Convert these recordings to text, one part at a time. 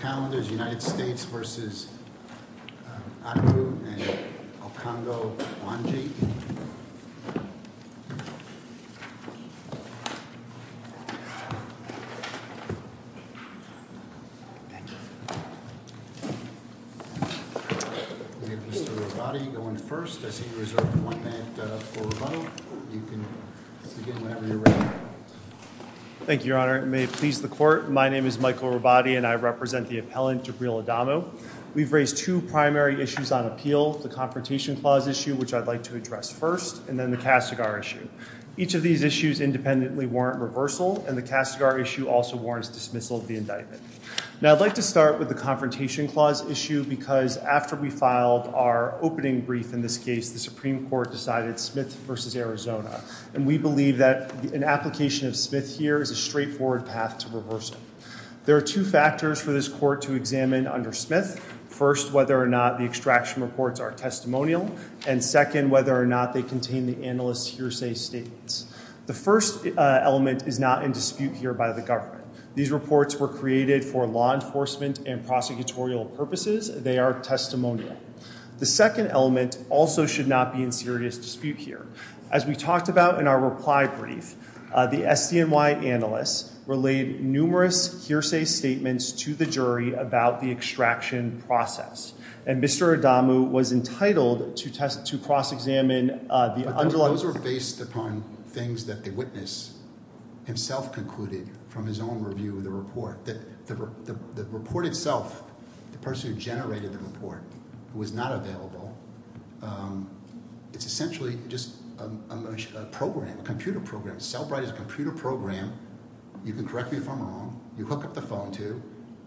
Calendars, United States v. Akru and Okonjo-Wanji. We have Mr. Rubati going first. I see you reserved one minute for a vote. You can begin whenever you're ready. Thank you, Your Honor. May it please the court, my name is Michael Rubati and I represent the appellant Jabril Adamu. We've raised two primary issues on appeal, the Confrontation Clause issue, which I'd like to address first, and then the Castigar issue. Each of these issues independently warrant reversal and the Castigar issue also warrants dismissal of the indictment. Now I'd like to start with the Confrontation Clause issue because after we filed our opening brief in this case, the Supreme Court decided Smith v. Arizona. And we believe that an application of Smith here is a straightforward path to reversal. There are two factors for this court to examine under Smith. First, whether or not the extraction reports are testimonial. And second, whether or not they contain the analyst's hearsay statements. The first element is not in dispute here by the government. These reports were created for law enforcement and prosecutorial purposes. They are testimonial. The second element also should not be in serious dispute here. As we talked about in our reply brief, the SDNY analysts relayed numerous hearsay statements to the jury about the extraction process. And Mr. Adamu was entitled to cross-examine the underlying- But those were based upon things that the witness himself concluded from his own review of the report. The report itself, the person who generated the report, who was not available, it's essentially just a program, a computer program. Cellbrite is a computer program. You can correct me if I'm wrong. You hook up the phone to,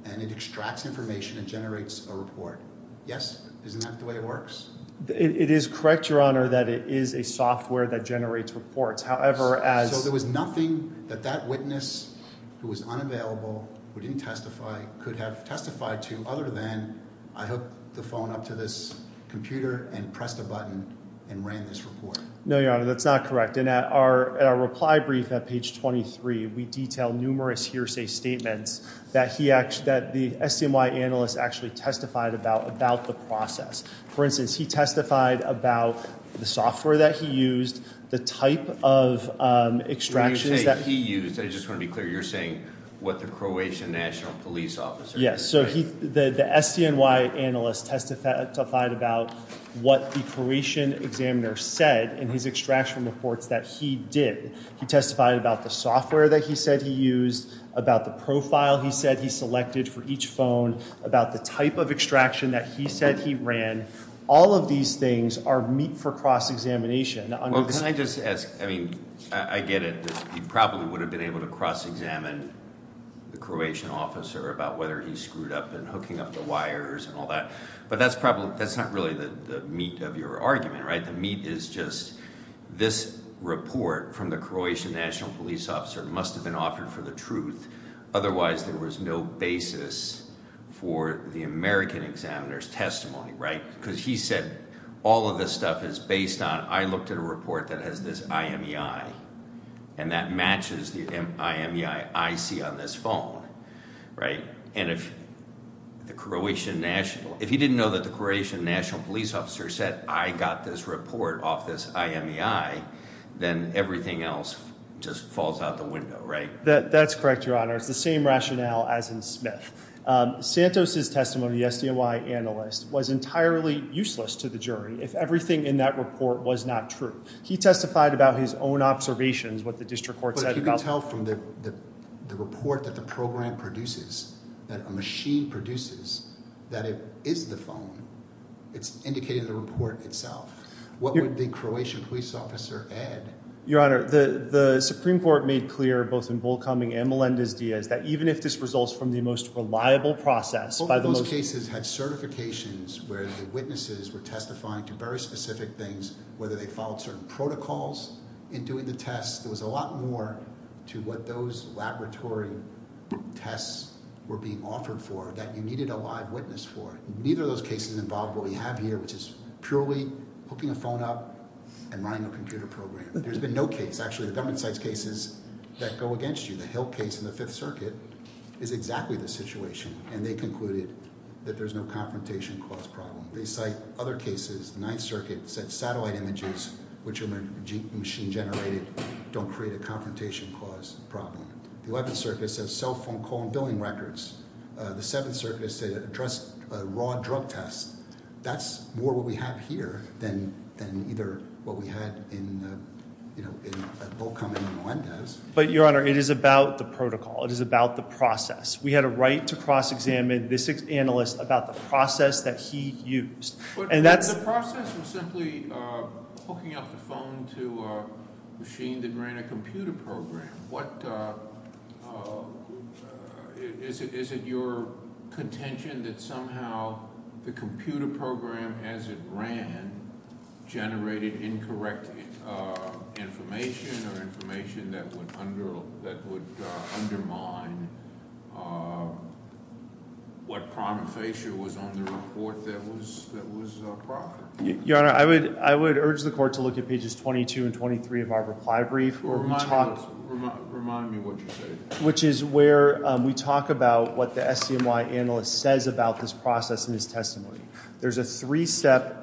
and it extracts information and generates a report. Yes? Isn't that the way it works? It is correct, Your Honor, that it is a software that generates reports. However, as- So there was nothing that that witness, who was unavailable, who didn't testify, could have testified to other than, I hooked the phone up to this computer and pressed a button and ran this report. No, Your Honor, that's not correct. And at our reply brief at page 23, we detail numerous hearsay statements that the SDNY analyst actually testified about the process. For instance, he testified about the software that he used, the type of extractions that- When you say he used, I just want to be clear. You're saying what the Croatian national police officer- Yes, so the SDNY analyst testified about what the Croatian examiner said in his extraction reports that he did. He testified about the software that he said he used, about the profile he said he selected for each phone, about the type of extraction that he said he ran. All of these things are meat for cross-examination. Well, can I just ask? I mean, I get it. He probably would have been able to cross-examine the Croatian officer about whether he screwed up and hooking up the wires and all that. But that's not really the meat of your argument, right? The meat is just this report from the Croatian national police officer must have been offered for the truth. Otherwise, there was no basis for the American examiner's testimony, right? Because he said all of this stuff is based on- I looked at a report that has this IMEI, and that matches the IMEI I see on this phone, right? And if the Croatian national- if he didn't know that the Croatian national police officer said, I got this report off this IMEI, then everything else just falls out the window, right? That's correct, Your Honor. It's the same rationale as in Smith. Santos' testimony, the SDNY analyst, was entirely useless to the jury if everything in that report was not true. He testified about his own observations, what the district court said about- But you can tell from the report that the program produces, that a machine produces, that it is the phone. It's indicated in the report itself. What would the Croatian police officer add? Your Honor, the Supreme Court made clear, both in Volkaming and Melendez-Diaz, that even if this results from the most reliable process- Both of those cases had certifications where the witnesses were testifying to very specific things, whether they followed certain protocols in doing the tests. There was a lot more to what those laboratory tests were being offered for that you needed a live witness for. Neither of those cases involved what we have here, which is purely hooking a phone up and running a computer program. There's been no case- Actually, the government cites cases that go against you. The Hill case in the Fifth Circuit is exactly the situation, and they concluded that there's no confrontation cause problem. They cite other cases. The Ninth Circuit said satellite images, which are machine generated, don't create a confrontation cause problem. The Eleventh Circuit said cell phone call and billing records. The Seventh Circuit said address a raw drug test. That's more what we have here than either what we had in Volkaming and Melendez. But, Your Honor, it is about the protocol. It is about the process. We had a right to cross-examine this analyst about the process that he used. But the process was simply hooking up the phone to a machine that ran a computer program. Is it your contention that somehow the computer program, as it ran, generated incorrect information or information that would undermine what prima facie was on the report that was proper? Your Honor, I would urge the court to look at pages 22 and 23 of our reply brief. Remind me what you said. Which is where we talk about what the SCMY analyst says about this process in his testimony. There's a three-step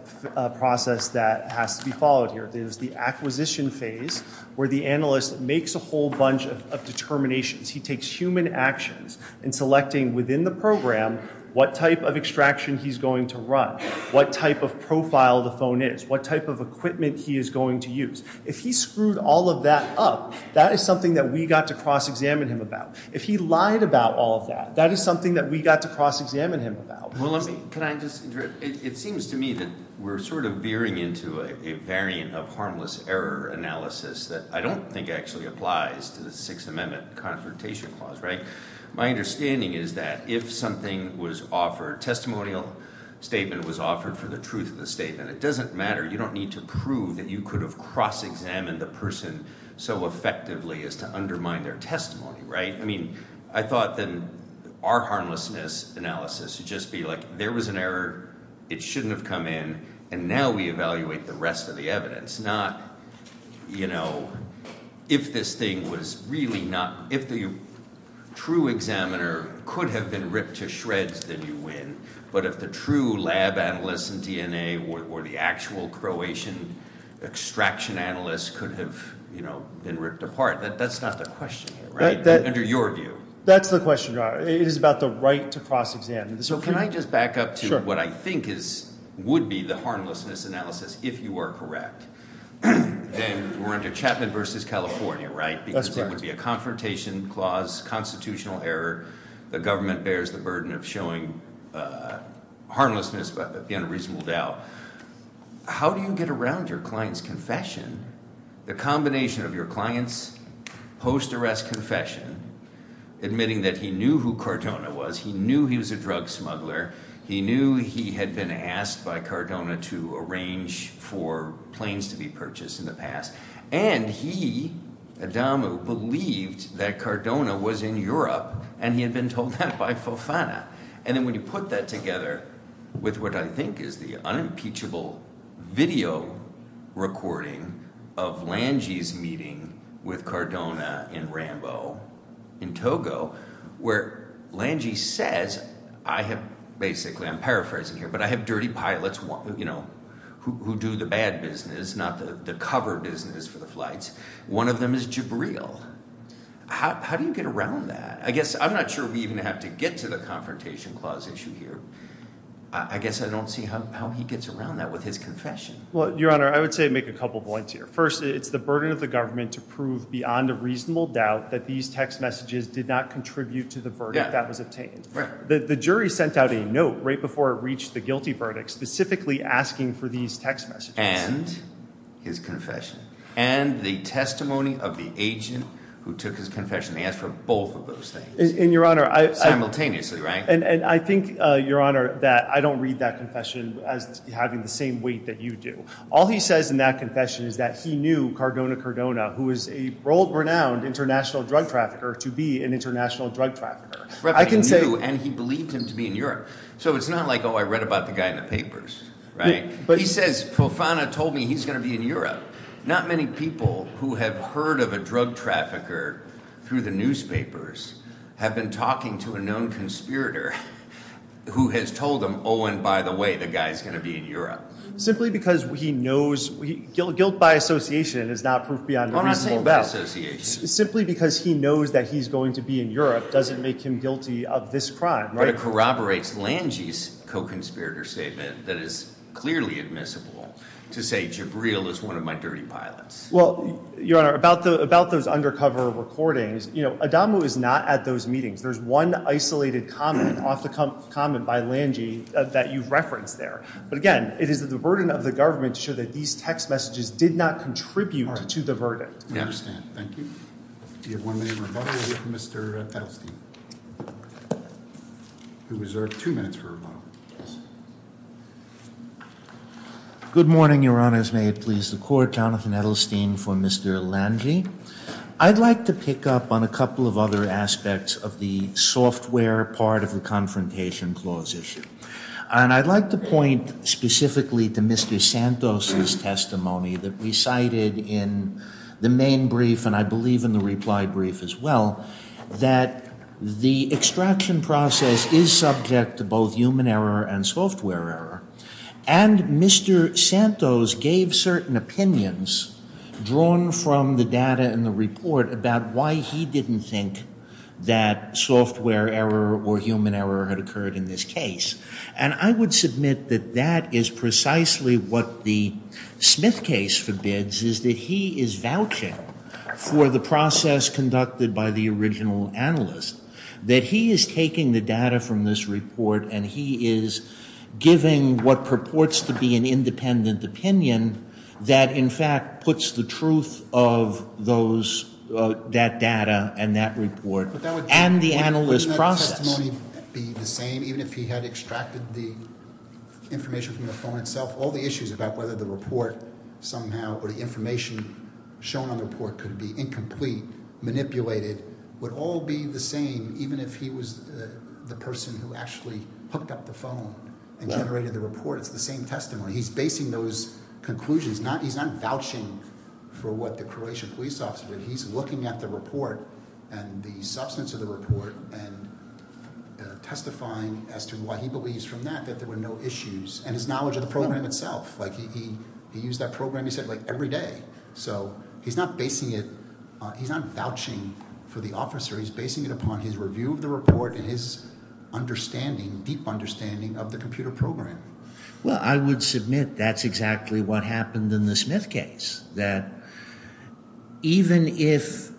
process that has to be followed here. There's the acquisition phase where the analyst makes a whole bunch of determinations. He takes human actions in selecting within the program what type of extraction he's going to run, what type of profile the phone is, what type of equipment he is going to use. If he screwed all of that up, that is something that we got to cross-examine him about. If he lied about all of that, that is something that we got to cross-examine him about. It seems to me that we're sort of veering into a variant of harmless error analysis that I don't think actually applies to the Sixth Amendment Confrontation Clause. My understanding is that if something was offered, a testimonial statement was offered for the truth of the statement, it doesn't matter. You don't need to prove that you could have cross-examined the person so effectively as to undermine their testimony. I thought then our harmlessness analysis would just be like there was an error, it shouldn't have come in, and now we evaluate the rest of the evidence. Not if this thing was really not – if the true examiner could have been ripped to shreds, then you win. But if the true lab analyst and DNA or the actual Croatian extraction analyst could have been ripped apart, that's not the question here. Under your view. That's the question. It is about the right to cross-examine. So can I just back up to what I think would be the harmlessness analysis if you were correct? Then we're under Chapman v. California, right? That's correct. Because it would be a confrontation clause, constitutional error. The government bears the burden of showing harmlessness but the unreasonable doubt. How do you get around your client's confession? The combination of your client's post-arrest confession admitting that he knew who Cardona was, he knew he was a drug smuggler, he knew he had been asked by Cardona to arrange for planes to be purchased in the past. And he, Adamu, believed that Cardona was in Europe and he had been told that by Fofana. And then when you put that together with what I think is the unimpeachable video recording of Lange's meeting with Cardona in Rambo, in Togo, where Lange says, basically I'm paraphrasing here, but I have dirty pilots who do the bad business, not the cover business for the flights. One of them is Jabril. How do you get around that? I guess I'm not sure we even have to get to the confrontation clause issue here. I guess I don't see how he gets around that with his confession. Your Honor, I would say make a couple points here. First, it's the burden of the government to prove beyond a reasonable doubt that these text messages did not contribute to the verdict that was obtained. The jury sent out a note right before it reached the guilty verdict specifically asking for these text messages. And his confession. And the testimony of the agent who took his confession. He asked for both of those things. Simultaneously, right? And I think, Your Honor, that I don't read that confession as having the same weight that you do. All he says in that confession is that he knew Cardona Cardona, who is a world-renowned international drug trafficker, to be an international drug trafficker. But he knew and he believed him to be in Europe. So it's not like, oh, I read about the guy in the papers, right? He says Profana told me he's going to be in Europe. Not many people who have heard of a drug trafficker through the newspapers have been talking to a known conspirator who has told them, oh, and by the way, the guy is going to be in Europe. Simply because he knows – guilt by association is not proof beyond a reasonable doubt. I'm not saying by association. Simply because he knows that he's going to be in Europe doesn't make him guilty of this crime, right? It kind of corroborates Lange's co-conspirator statement that is clearly admissible to say Jabril is one of my dirty pilots. Well, Your Honor, about those undercover recordings, you know, Adamu is not at those meetings. There's one isolated comment off the comment by Lange that you've referenced there. But again, it is the burden of the government to show that these text messages did not contribute to the burden. I understand. Thank you. Do you have one minute for rebuttal with Mr. Edelstein? You're reserved two minutes for rebuttal. Good morning, Your Honors. May it please the Court. Jonathan Edelstein for Mr. Lange. I'd like to pick up on a couple of other aspects of the software part of the Confrontation Clause issue. And I'd like to point specifically to Mr. Santos' testimony that recited in the main brief and I believe in the reply brief as well, that the extraction process is subject to both human error and software error. And Mr. Santos gave certain opinions drawn from the data in the report about why he didn't think that software error or human error had occurred in this case. And I would submit that that is precisely what the Smith case forbids, is that he is vouching for the process conducted by the original analyst, that he is taking the data from this report and he is giving what purports to be an independent opinion that in fact puts the truth of that data and that report and the analyst process. Would the testimony be the same even if he had extracted the information from the phone itself? All the issues about whether the report somehow or the information shown on the report could be incomplete, manipulated, would all be the same even if he was the person who actually hooked up the phone and generated the report? It's the same testimony. He's basing those conclusions. He's not vouching for what the Croatian police officer did. He's looking at the report and the substance of the report and testifying as to why he believes from that that there were no issues, and his knowledge of the program itself. He used that program, he said, every day. So he's not basing it, he's not vouching for the officer. He's basing it upon his review of the report and his understanding, deep understanding of the computer program. Well, I would submit that's exactly what happened in the Smith case, that even if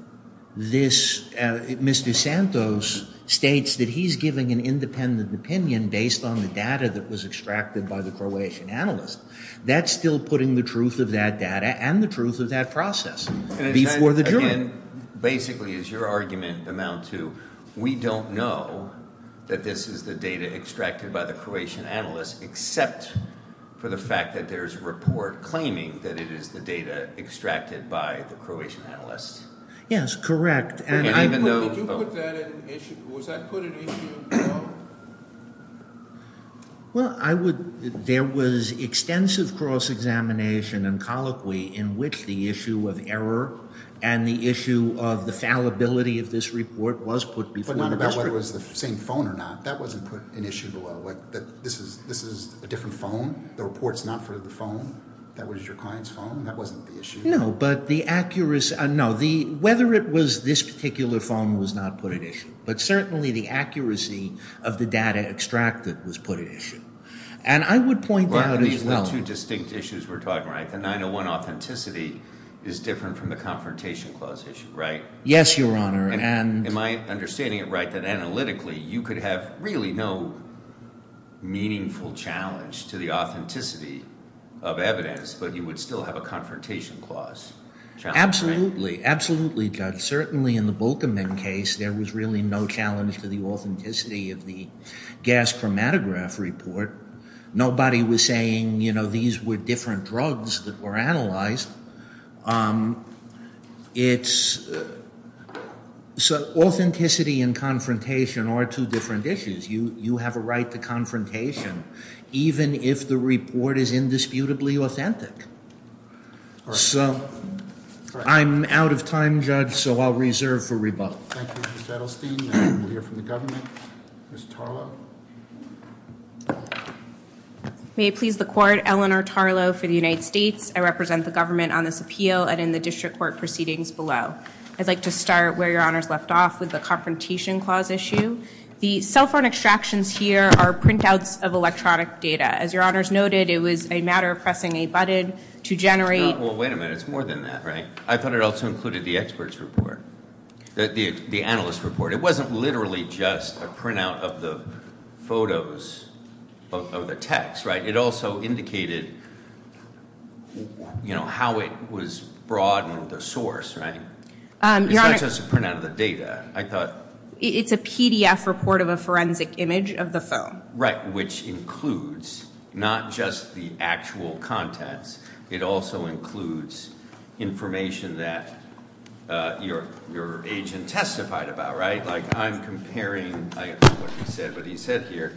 this Mr. Santos states that he's giving an independent opinion based on the data that was extracted by the Croatian analyst, that's still putting the truth of that data and the truth of that process before the jury. Basically, as your argument amounts to, we don't know that this is the data extracted by the Croatian analyst except for the fact that there's a report claiming that it is the data extracted by the Croatian analyst. Yes, correct. Did you put that at issue? Was that put at issue? Well, there was extensive cross-examination and colloquy in which the issue of error and the issue of the fallibility of this report was put before the district. Whether it was the same phone or not, that wasn't put at issue below. This is a different phone? The report's not for the phone? That was your client's phone? That wasn't the issue? No, but the accuracy – no, whether it was this particular phone was not put at issue. But certainly the accuracy of the data extracted was put at issue. And I would point out as well – Well, these are the two distinct issues we're talking about. The 901 authenticity is different from the Confrontation Clause issue, right? Yes, Your Honor. Am I understanding it right that analytically you could have really no meaningful challenge to the authenticity of evidence, but you would still have a Confrontation Clause challenge, right? Absolutely, absolutely, Judge. Certainly in the Volkermann case there was really no challenge to the authenticity of the gas chromatograph report. Nobody was saying these were different drugs that were analyzed. It's – so authenticity and confrontation are two different issues. You have a right to confrontation even if the report is indisputably authentic. So I'm out of time, Judge, so I'll reserve for rebuttal. Thank you, Judge Edelstein. We'll hear from the government. Ms. Tarlow? May it please the Court, Eleanor Tarlow for the United States. I represent the government on this appeal and in the district court proceedings below. I'd like to start where Your Honor's left off with the Confrontation Clause issue. The cell phone extractions here are printouts of electronic data. As Your Honor's noted, it was a matter of pressing a button to generate – Well, wait a minute. It's more than that, right? I thought it also included the expert's report, the analyst's report. It wasn't literally just a printout of the photos of the text, right? It also indicated how it was brought in the source, right? It's not just a printout of the data. I thought – It's a PDF report of a forensic image of the phone. Right, which includes not just the actual contents. It also includes information that your agent testified about, right? Like I'm comparing – I don't know what he said, but he said here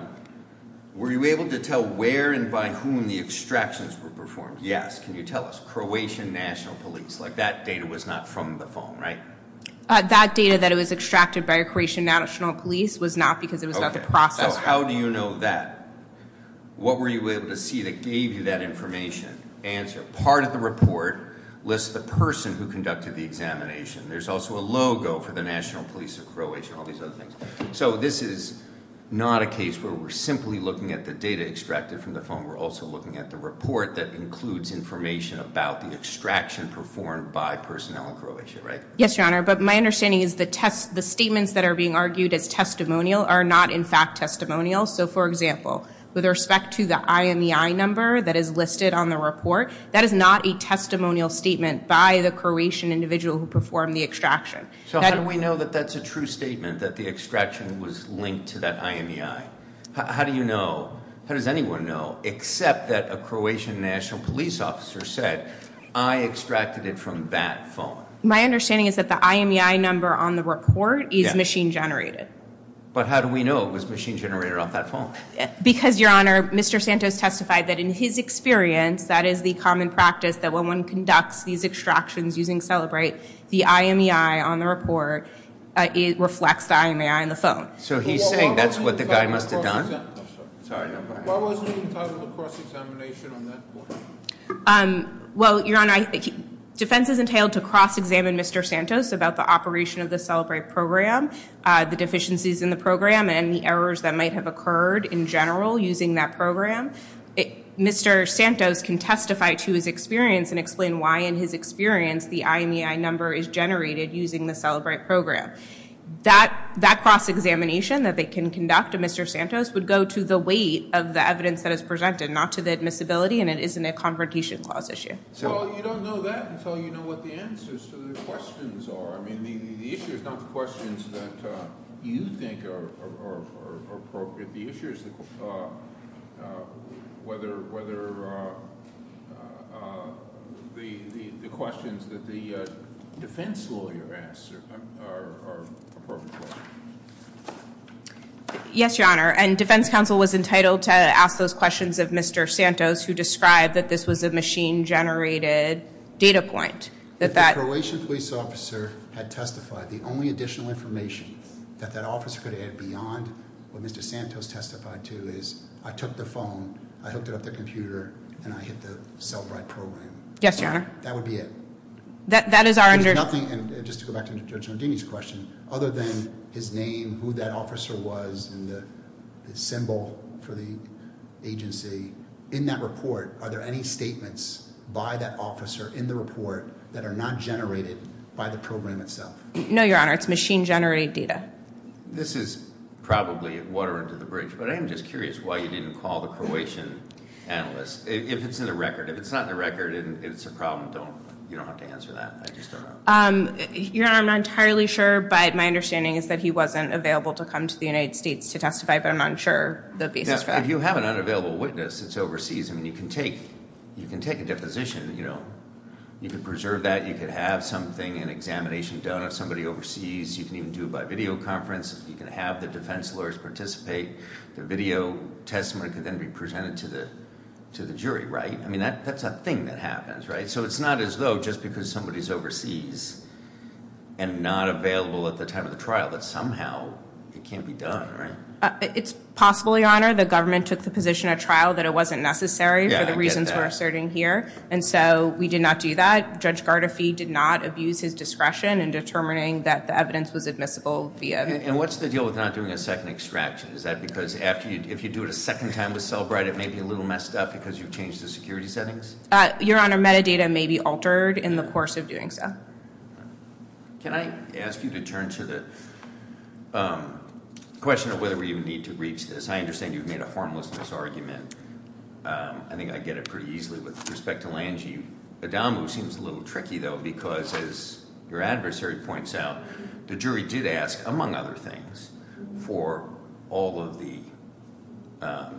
– Were you able to tell where and by whom the extractions were performed? Yes. Can you tell us? Croatian National Police. Like that data was not from the phone, right? That data that was extracted by Croatian National Police was not because it was not the process. So how do you know that? What were you able to see that gave you that information? Answer. Part of the report lists the person who conducted the examination. There's also a logo for the National Police of Croatia and all these other things. So this is not a case where we're simply looking at the data extracted from the phone. We're also looking at the report that includes information about the extraction performed by personnel in Croatia, right? Yes, Your Honor, but my understanding is the statements that are being argued as testimonial are not in fact testimonial. So, for example, with respect to the IMEI number that is listed on the report, that is not a testimonial statement by the Croatian individual who performed the extraction. So how do we know that that's a true statement that the extraction was linked to that IMEI? How do you know? How does anyone know except that a Croatian National Police officer said, I extracted it from that phone? My understanding is that the IMEI number on the report is machine generated. But how do we know it was machine generated off that phone? Because, Your Honor, Mr. Santos testified that in his experience, that is the common practice that when one conducts these extractions using Celebrate, the IMEI on the report reflects the IMEI on the phone. So he's saying that's what the guy must have done? Why wasn't he entitled to cross-examination on that point? Well, Your Honor, defense is entailed to cross-examine Mr. Santos about the operation of the Celebrate program, the deficiencies in the program, and the errors that might have occurred in general using that program. Mr. Santos can testify to his experience and explain why, in his experience, the IMEI number is generated using the Celebrate program. That cross-examination that they can conduct to Mr. Santos would go to the weight of the evidence that is presented, not to the admissibility, and it isn't a Confrontation Clause issue. Well, you don't know that until you know what the answers to the questions are. I mean, the issue is not the questions that you think are appropriate. The issue is whether the questions that the defense lawyer asks are appropriate. Yes, Your Honor, and defense counsel was entitled to ask those questions of Mr. Santos, who described that this was a machine-generated data point. If a Croatian police officer had testified, the only additional information that that officer could add beyond what Mr. Santos testified to is, I took the phone, I hooked it up to the computer, and I hit the Celebrate program. Yes, Your Honor. That would be it. That is our understanding. Just to go back to Judge Nardini's question, other than his name, who that officer was, and the symbol for the agency, in that report, are there any statements by that officer in the report that are not generated by the program itself? No, Your Honor. It's machine-generated data. This is probably water under the bridge, but I am just curious why you didn't call the Croatian analyst. If it's in the record. If it's not in the record and it's a problem, you don't have to answer that. I just don't know. Your Honor, I'm not entirely sure, but my understanding is that he wasn't available to come to the United States to testify, but I'm not sure the basis for that. If you have an unavailable witness that's overseas, you can take a deposition. You can preserve that. You can have something, an examination done of somebody overseas. You can even do it by video conference. You can have the defense lawyers participate. The video testimony can then be presented to the jury, right? That's a thing that happens, right? So it's not as though just because somebody's overseas and not available at the time of the trial, that somehow it can't be done, right? It's possibly, Your Honor. The government took the position at trial that it wasn't necessary for the reasons we're asserting here, and so we did not do that. Judge Gardefee did not abuse his discretion in determining that the evidence was admissible via. And what's the deal with not doing a second extraction? Is that because if you do it a second time with Cellbrite, it may be a little messed up because you've changed the security settings? Your Honor, metadata may be altered in the course of doing so. Can I ask you to turn to the question of whether we even need to reach this? I understand you've made a harmlessness argument. I think I get it pretty easily with respect to Lange. Adamu seems a little tricky, though, because as your adversary points out, the jury did ask, among other things, for all of the, I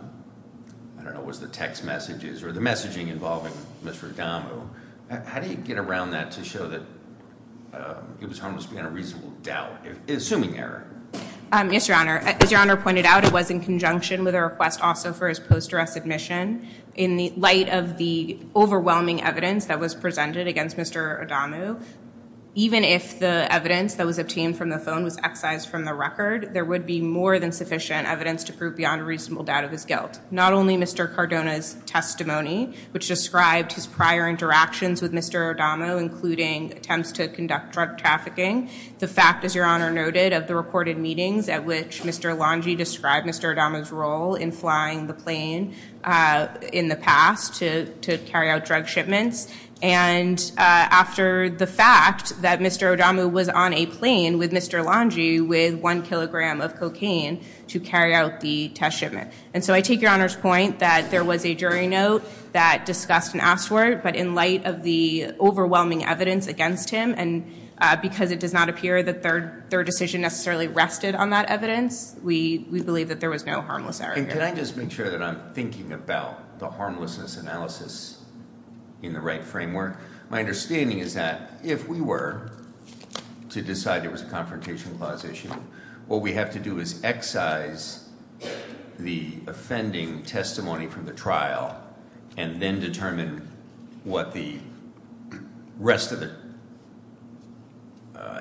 don't know, was the text messages or the messaging involving Mr. Adamu. How do you get around that to show that it was harmless beyond a reasonable doubt, assuming error? Yes, Your Honor. As Your Honor pointed out, it was in conjunction with a request also for his post-dress admission. In the light of the overwhelming evidence that was presented against Mr. Adamu, even if the evidence that was obtained from the phone was excised from the record, there would be more than sufficient evidence to prove beyond a reasonable doubt of his guilt. Not only Mr. Cardona's testimony, which described his prior interactions with Mr. Adamu, including attempts to conduct drug trafficking, the fact, as Your Honor noted, of the recorded meetings at which Mr. Lange described Mr. Adamu's role in flying the plane in the past to carry out drug shipments, and after the fact that Mr. Adamu was on a plane with Mr. Lange with one kilogram of cocaine to carry out the test shipment. And so I take Your Honor's point that there was a jury note that discussed and asked for it, but in light of the overwhelming evidence against him, and because it does not appear that their decision necessarily rested on that evidence, we believe that there was no harmless error here. And can I just make sure that I'm thinking about the harmlessness analysis in the right framework? My understanding is that if we were to decide there was a confrontation clause issue, what we have to do is excise the offending testimony from the trial and then determine what the rest of the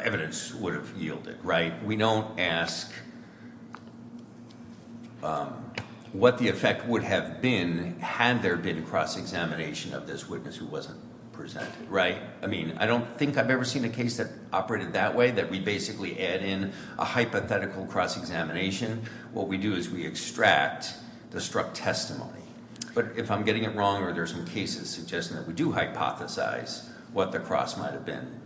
evidence would have yielded, right? We don't ask what the effect would have been had there been cross-examination of this witness who wasn't presented, right? I mean, I don't think I've ever seen a case that operated that way, that we basically add in a hypothetical cross-examination. What we do is we extract the struck testimony. But if I'm getting it wrong or there's some cases suggesting that we do hypothesize what the cross might have been,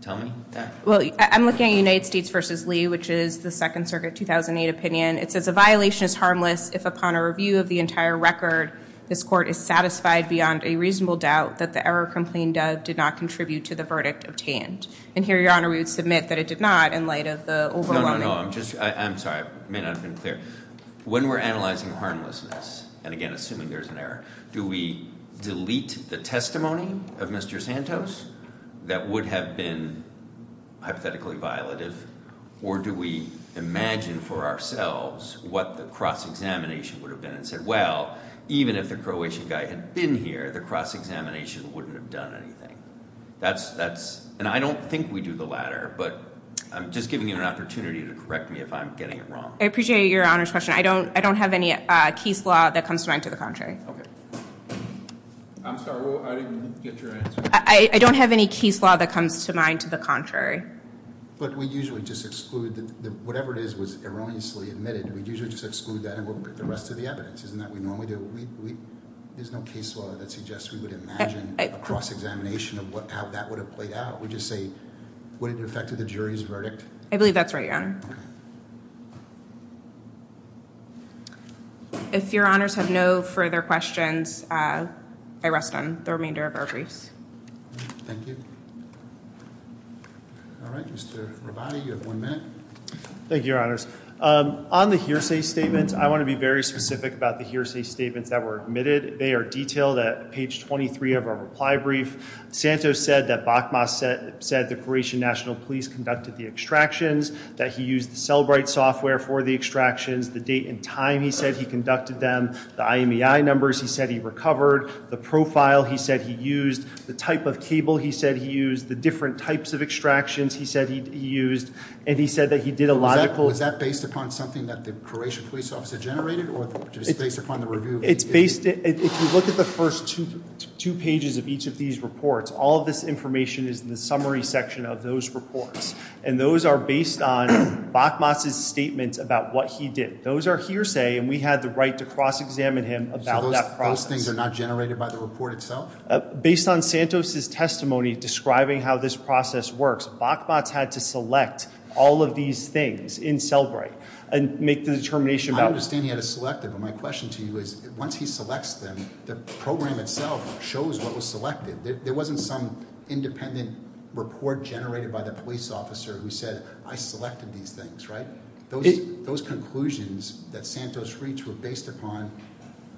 tell me that. Well, I'm looking at United States v. Lee, which is the Second Circuit 2008 opinion. It says a violation is harmless if upon a review of the entire record, this court is satisfied beyond a reasonable doubt that the error complained of did not contribute to the verdict obtained. And here, Your Honor, we would submit that it did not in light of the overwhelming- No, no, no. I'm sorry. I may not have been clear. When we're analyzing harmlessness, and again, assuming there's an error, do we delete the testimony of Mr. Santos that would have been hypothetically violative? Or do we imagine for ourselves what the cross-examination would have been and say, well, even if the Croatian guy had been here, the cross-examination wouldn't have done anything? And I don't think we do the latter, but I'm just giving you an opportunity to correct me if I'm getting it wrong. I appreciate Your Honor's question. I don't have any case law that comes to mind to the contrary. Okay. I'm sorry. I didn't get your answer. I don't have any case law that comes to mind to the contrary. But we usually just exclude whatever it is was erroneously admitted. We usually just exclude that and look at the rest of the evidence, isn't that what we normally do? There's no case law that suggests we would imagine a cross-examination of how that would have played out. We just say, would it have affected the jury's verdict? I believe that's right, Your Honor. If Your Honors have no further questions, I rest on the remainder of our briefs. Thank you. All right, Mr. Rabadi, you have one minute. Thank you, Your Honors. On the hearsay statements, I want to be very specific about the hearsay statements that were admitted. They are detailed at page 23 of our reply brief. Santos said that Bachmas said the Croatian National Police conducted the extractions, that he used the Cellbrite software for the extractions, the date and time he said he conducted them, the IMEI numbers he said he recovered, the profile he said he used, the type of cable he said he used, the different types of extractions he said he used, and he said that he did a lot of- Was that based upon something that the Croatian police officer generated or just based upon the review- It's based, if you look at the first two pages of each of these reports, all of this information is in the summary section of those reports. And those are based on Bachmas' statements about what he did. Those are hearsay, and we had the right to cross-examine him about that process. So those things are not generated by the report itself? Based on Santos' testimony describing how this process works, Bachmas had to select all of these things in Cellbrite and make the determination about- I understand he had to select them, but my question to you is, once he selects them, the program itself shows what was selected. There wasn't some independent report generated by the police officer who said, I selected these things, right? Those conclusions that Santos reached were based upon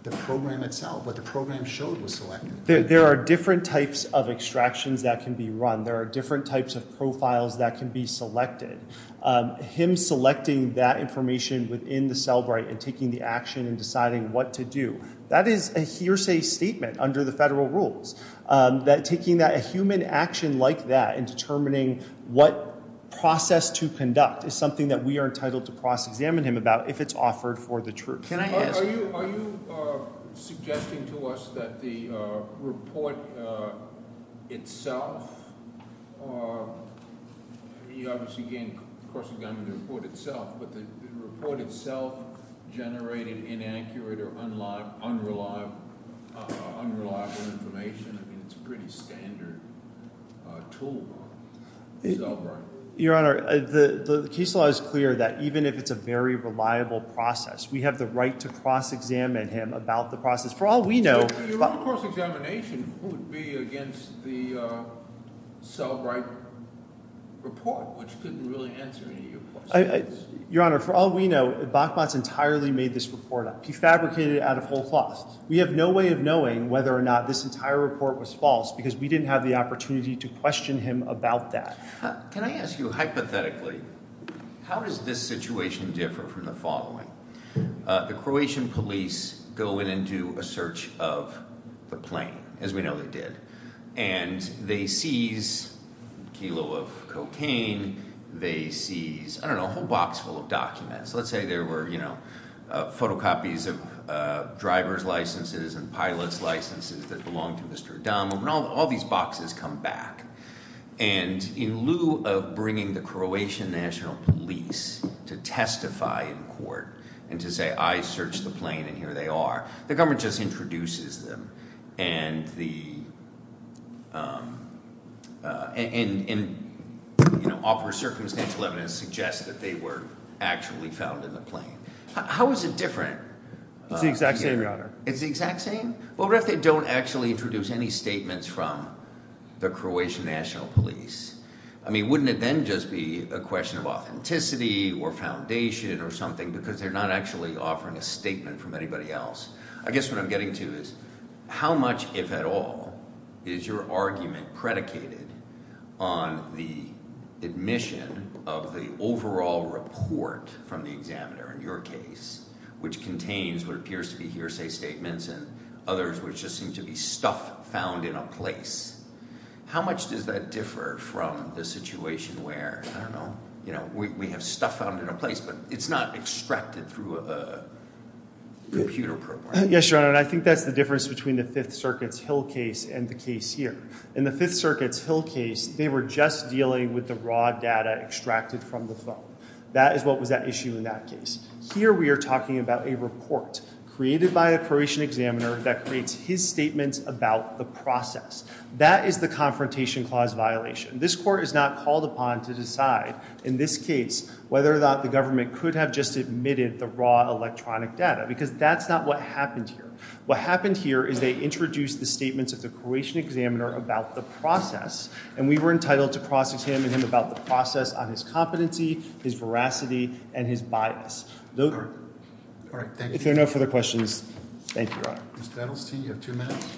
the program itself. What the program showed was selected. There are different types of extractions that can be run. There are different types of profiles that can be selected. Him selecting that information within the Cellbrite and taking the action and deciding what to do, that is a hearsay statement under the federal rules. Taking a human action like that and determining what process to conduct is something that we are entitled to cross-examine him about if it's offered for the truth. Can I ask- Are you suggesting to us that the report itself- you obviously can't cross-examine the report itself, but the report itself generated inaccurate or unreliable information? I mean, it's a pretty standard tool in Cellbrite. Your Honor, the case law is clear that even if it's a very reliable process, we have the right to cross-examine him about the process. For all we know- Your own cross-examination would be against the Cellbrite report, which couldn't really answer any of your questions. Your Honor, for all we know, Bachmott's entirely made this report up. He fabricated it out of whole cloth. We have no way of knowing whether or not this entire report was false because we didn't have the opportunity to question him about that. Can I ask you, hypothetically, how does this situation differ from the following? The Croatian police go in and do a search of the plane, as we know they did, and they seize a kilo of cocaine. They seize, I don't know, a whole box full of documents. Let's say there were, you know, photocopies of driver's licenses and pilot's licenses that belonged to Mr. Adamov, and all these boxes come back. And in lieu of bringing the Croatian National Police to testify in court and to say, I searched the plane and here they are, the government just introduces them and offers circumstantial evidence to suggest that they were actually found in the plane. How is it different? It's the exact same, Your Honor. It's the exact same? Well, what if they don't actually introduce any statements from the Croatian National Police? I mean, wouldn't it then just be a question of authenticity or foundation or something because they're not actually offering a statement from anybody else? I guess what I'm getting to is how much, if at all, is your argument predicated on the admission of the overall report from the examiner, in your case, which contains what appears to be hearsay statements and others which just seem to be stuff found in a place. How much does that differ from the situation where, I don't know, you know, we have stuff found in a place but it's not extracted through a computer program? Yes, Your Honor, and I think that's the difference between the Fifth Circuit's Hill case and the case here. In the Fifth Circuit's Hill case, they were just dealing with the raw data extracted from the phone. That is what was at issue in that case. Here we are talking about a report created by a Croatian examiner that creates his statements about the process. That is the confrontation clause violation. This court is not called upon to decide, in this case, whether or not the government could have just admitted the raw electronic data because that's not what happened here. What happened here is they introduced the statements of the Croatian examiner about the process, and we were entitled to cross-examine him about the process on his competency, his veracity, and his bias. All right, thank you. If there are no further questions, thank you, Your Honor. Mr. Edelstein, you have two minutes.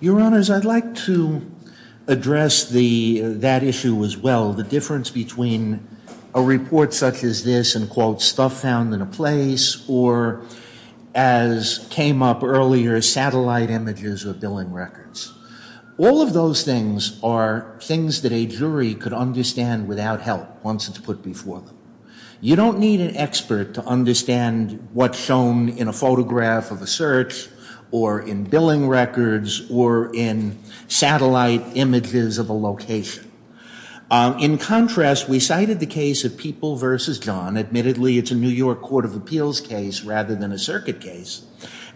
Your Honors, I'd like to address that issue as well, the difference between a report such as this and, quote, stuff found in a place, or as came up earlier, satellite images or billing records. All of those things are things that a jury could understand without help once it's put before them. You don't need an expert to understand what's shown in a photograph of a search or in billing records or in satellite images of a location. In contrast, we cited the case of People v. John. Admittedly, it's a New York Court of Appeals case rather than a circuit case,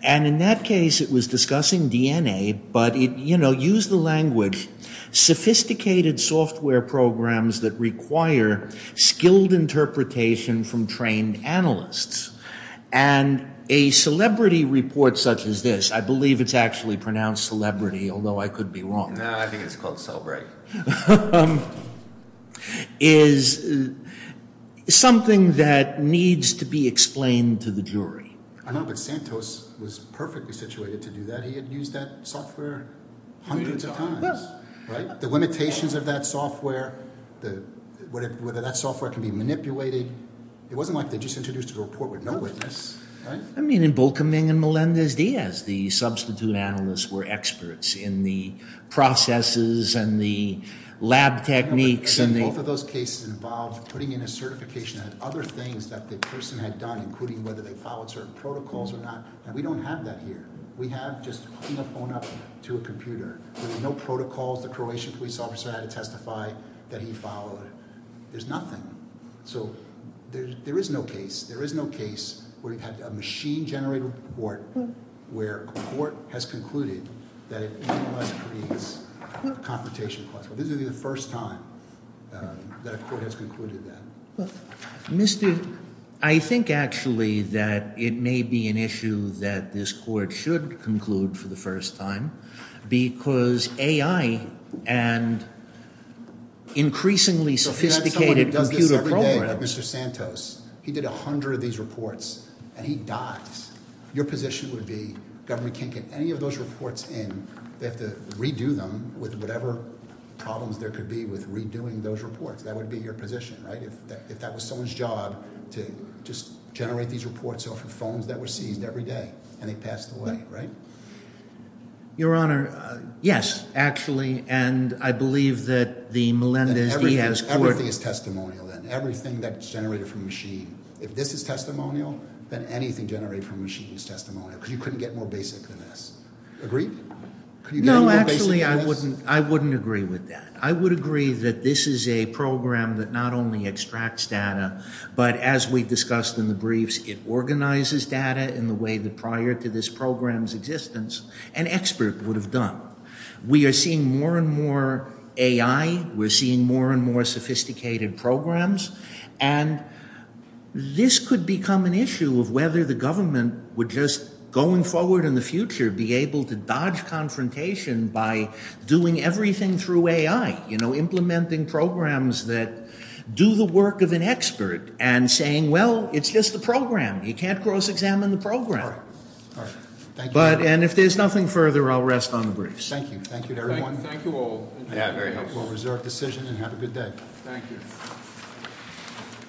and in that case it was discussing DNA, but it, you know, used the language, sophisticated software programs that require skilled interpretation from trained analysts. And a celebrity report such as this, I believe it's actually pronounced celebrity, although I could be wrong. No, I think it's called cel-break. Is something that needs to be explained to the jury. I know, but Santos was perfectly situated to do that. He had used that software hundreds of times, right? The limitations of that software, whether that software can be manipulated. It wasn't like they just introduced a report with no witness, right? I mean, in Bolkeming and Melendez-Diaz, the substitute analysts were experts in the processes and the lab techniques. And both of those cases involved putting in a certification and other things that the person had done, including whether they followed certain protocols or not. And we don't have that here. We have just putting a phone up to a computer. There were no protocols. The Croatian police officer had to testify that he followed. There's nothing. So there is no case. There is no case where you've had a machine-generated report where a court has concluded that it creates a confrontation clause. This is the first time that a court has concluded that. Well, Mr. – I think, actually, that it may be an issue that this court should conclude for the first time because AI and increasingly sophisticated computer programs – So if that's someone who does this every day like Mr. Santos, he did 100 of these reports and he dies, your position would be the government can't get any of those reports in. They have to redo them with whatever problems there could be with redoing those reports. That would be your position, right? If that was someone's job to just generate these reports off of phones that were seized every day and they passed away, right? Your Honor, yes, actually. And I believe that the Melendez-Diaz court – Everything is testimonial then, everything that's generated from a machine. If this is testimonial, then anything generated from a machine is testimonial because you couldn't get more basic than this. Agree? No, actually, I wouldn't agree with that. I would agree that this is a program that not only extracts data, but as we discussed in the briefs, it organizes data in the way that prior to this program's existence, an expert would have done. We are seeing more and more AI. We're seeing more and more sophisticated programs. And this could become an issue of whether the government would just, going forward in the future, be able to dodge confrontation by doing everything through AI, implementing programs that do the work of an expert and saying, well, it's just a program. You can't cross-examine the program. All right. Thank you, Your Honor. And if there's nothing further, I'll rest on the briefs. Thank you. Thank you, everyone. Thank you all. Yeah, very helpful. Reserve decision and have a good day. Thank you.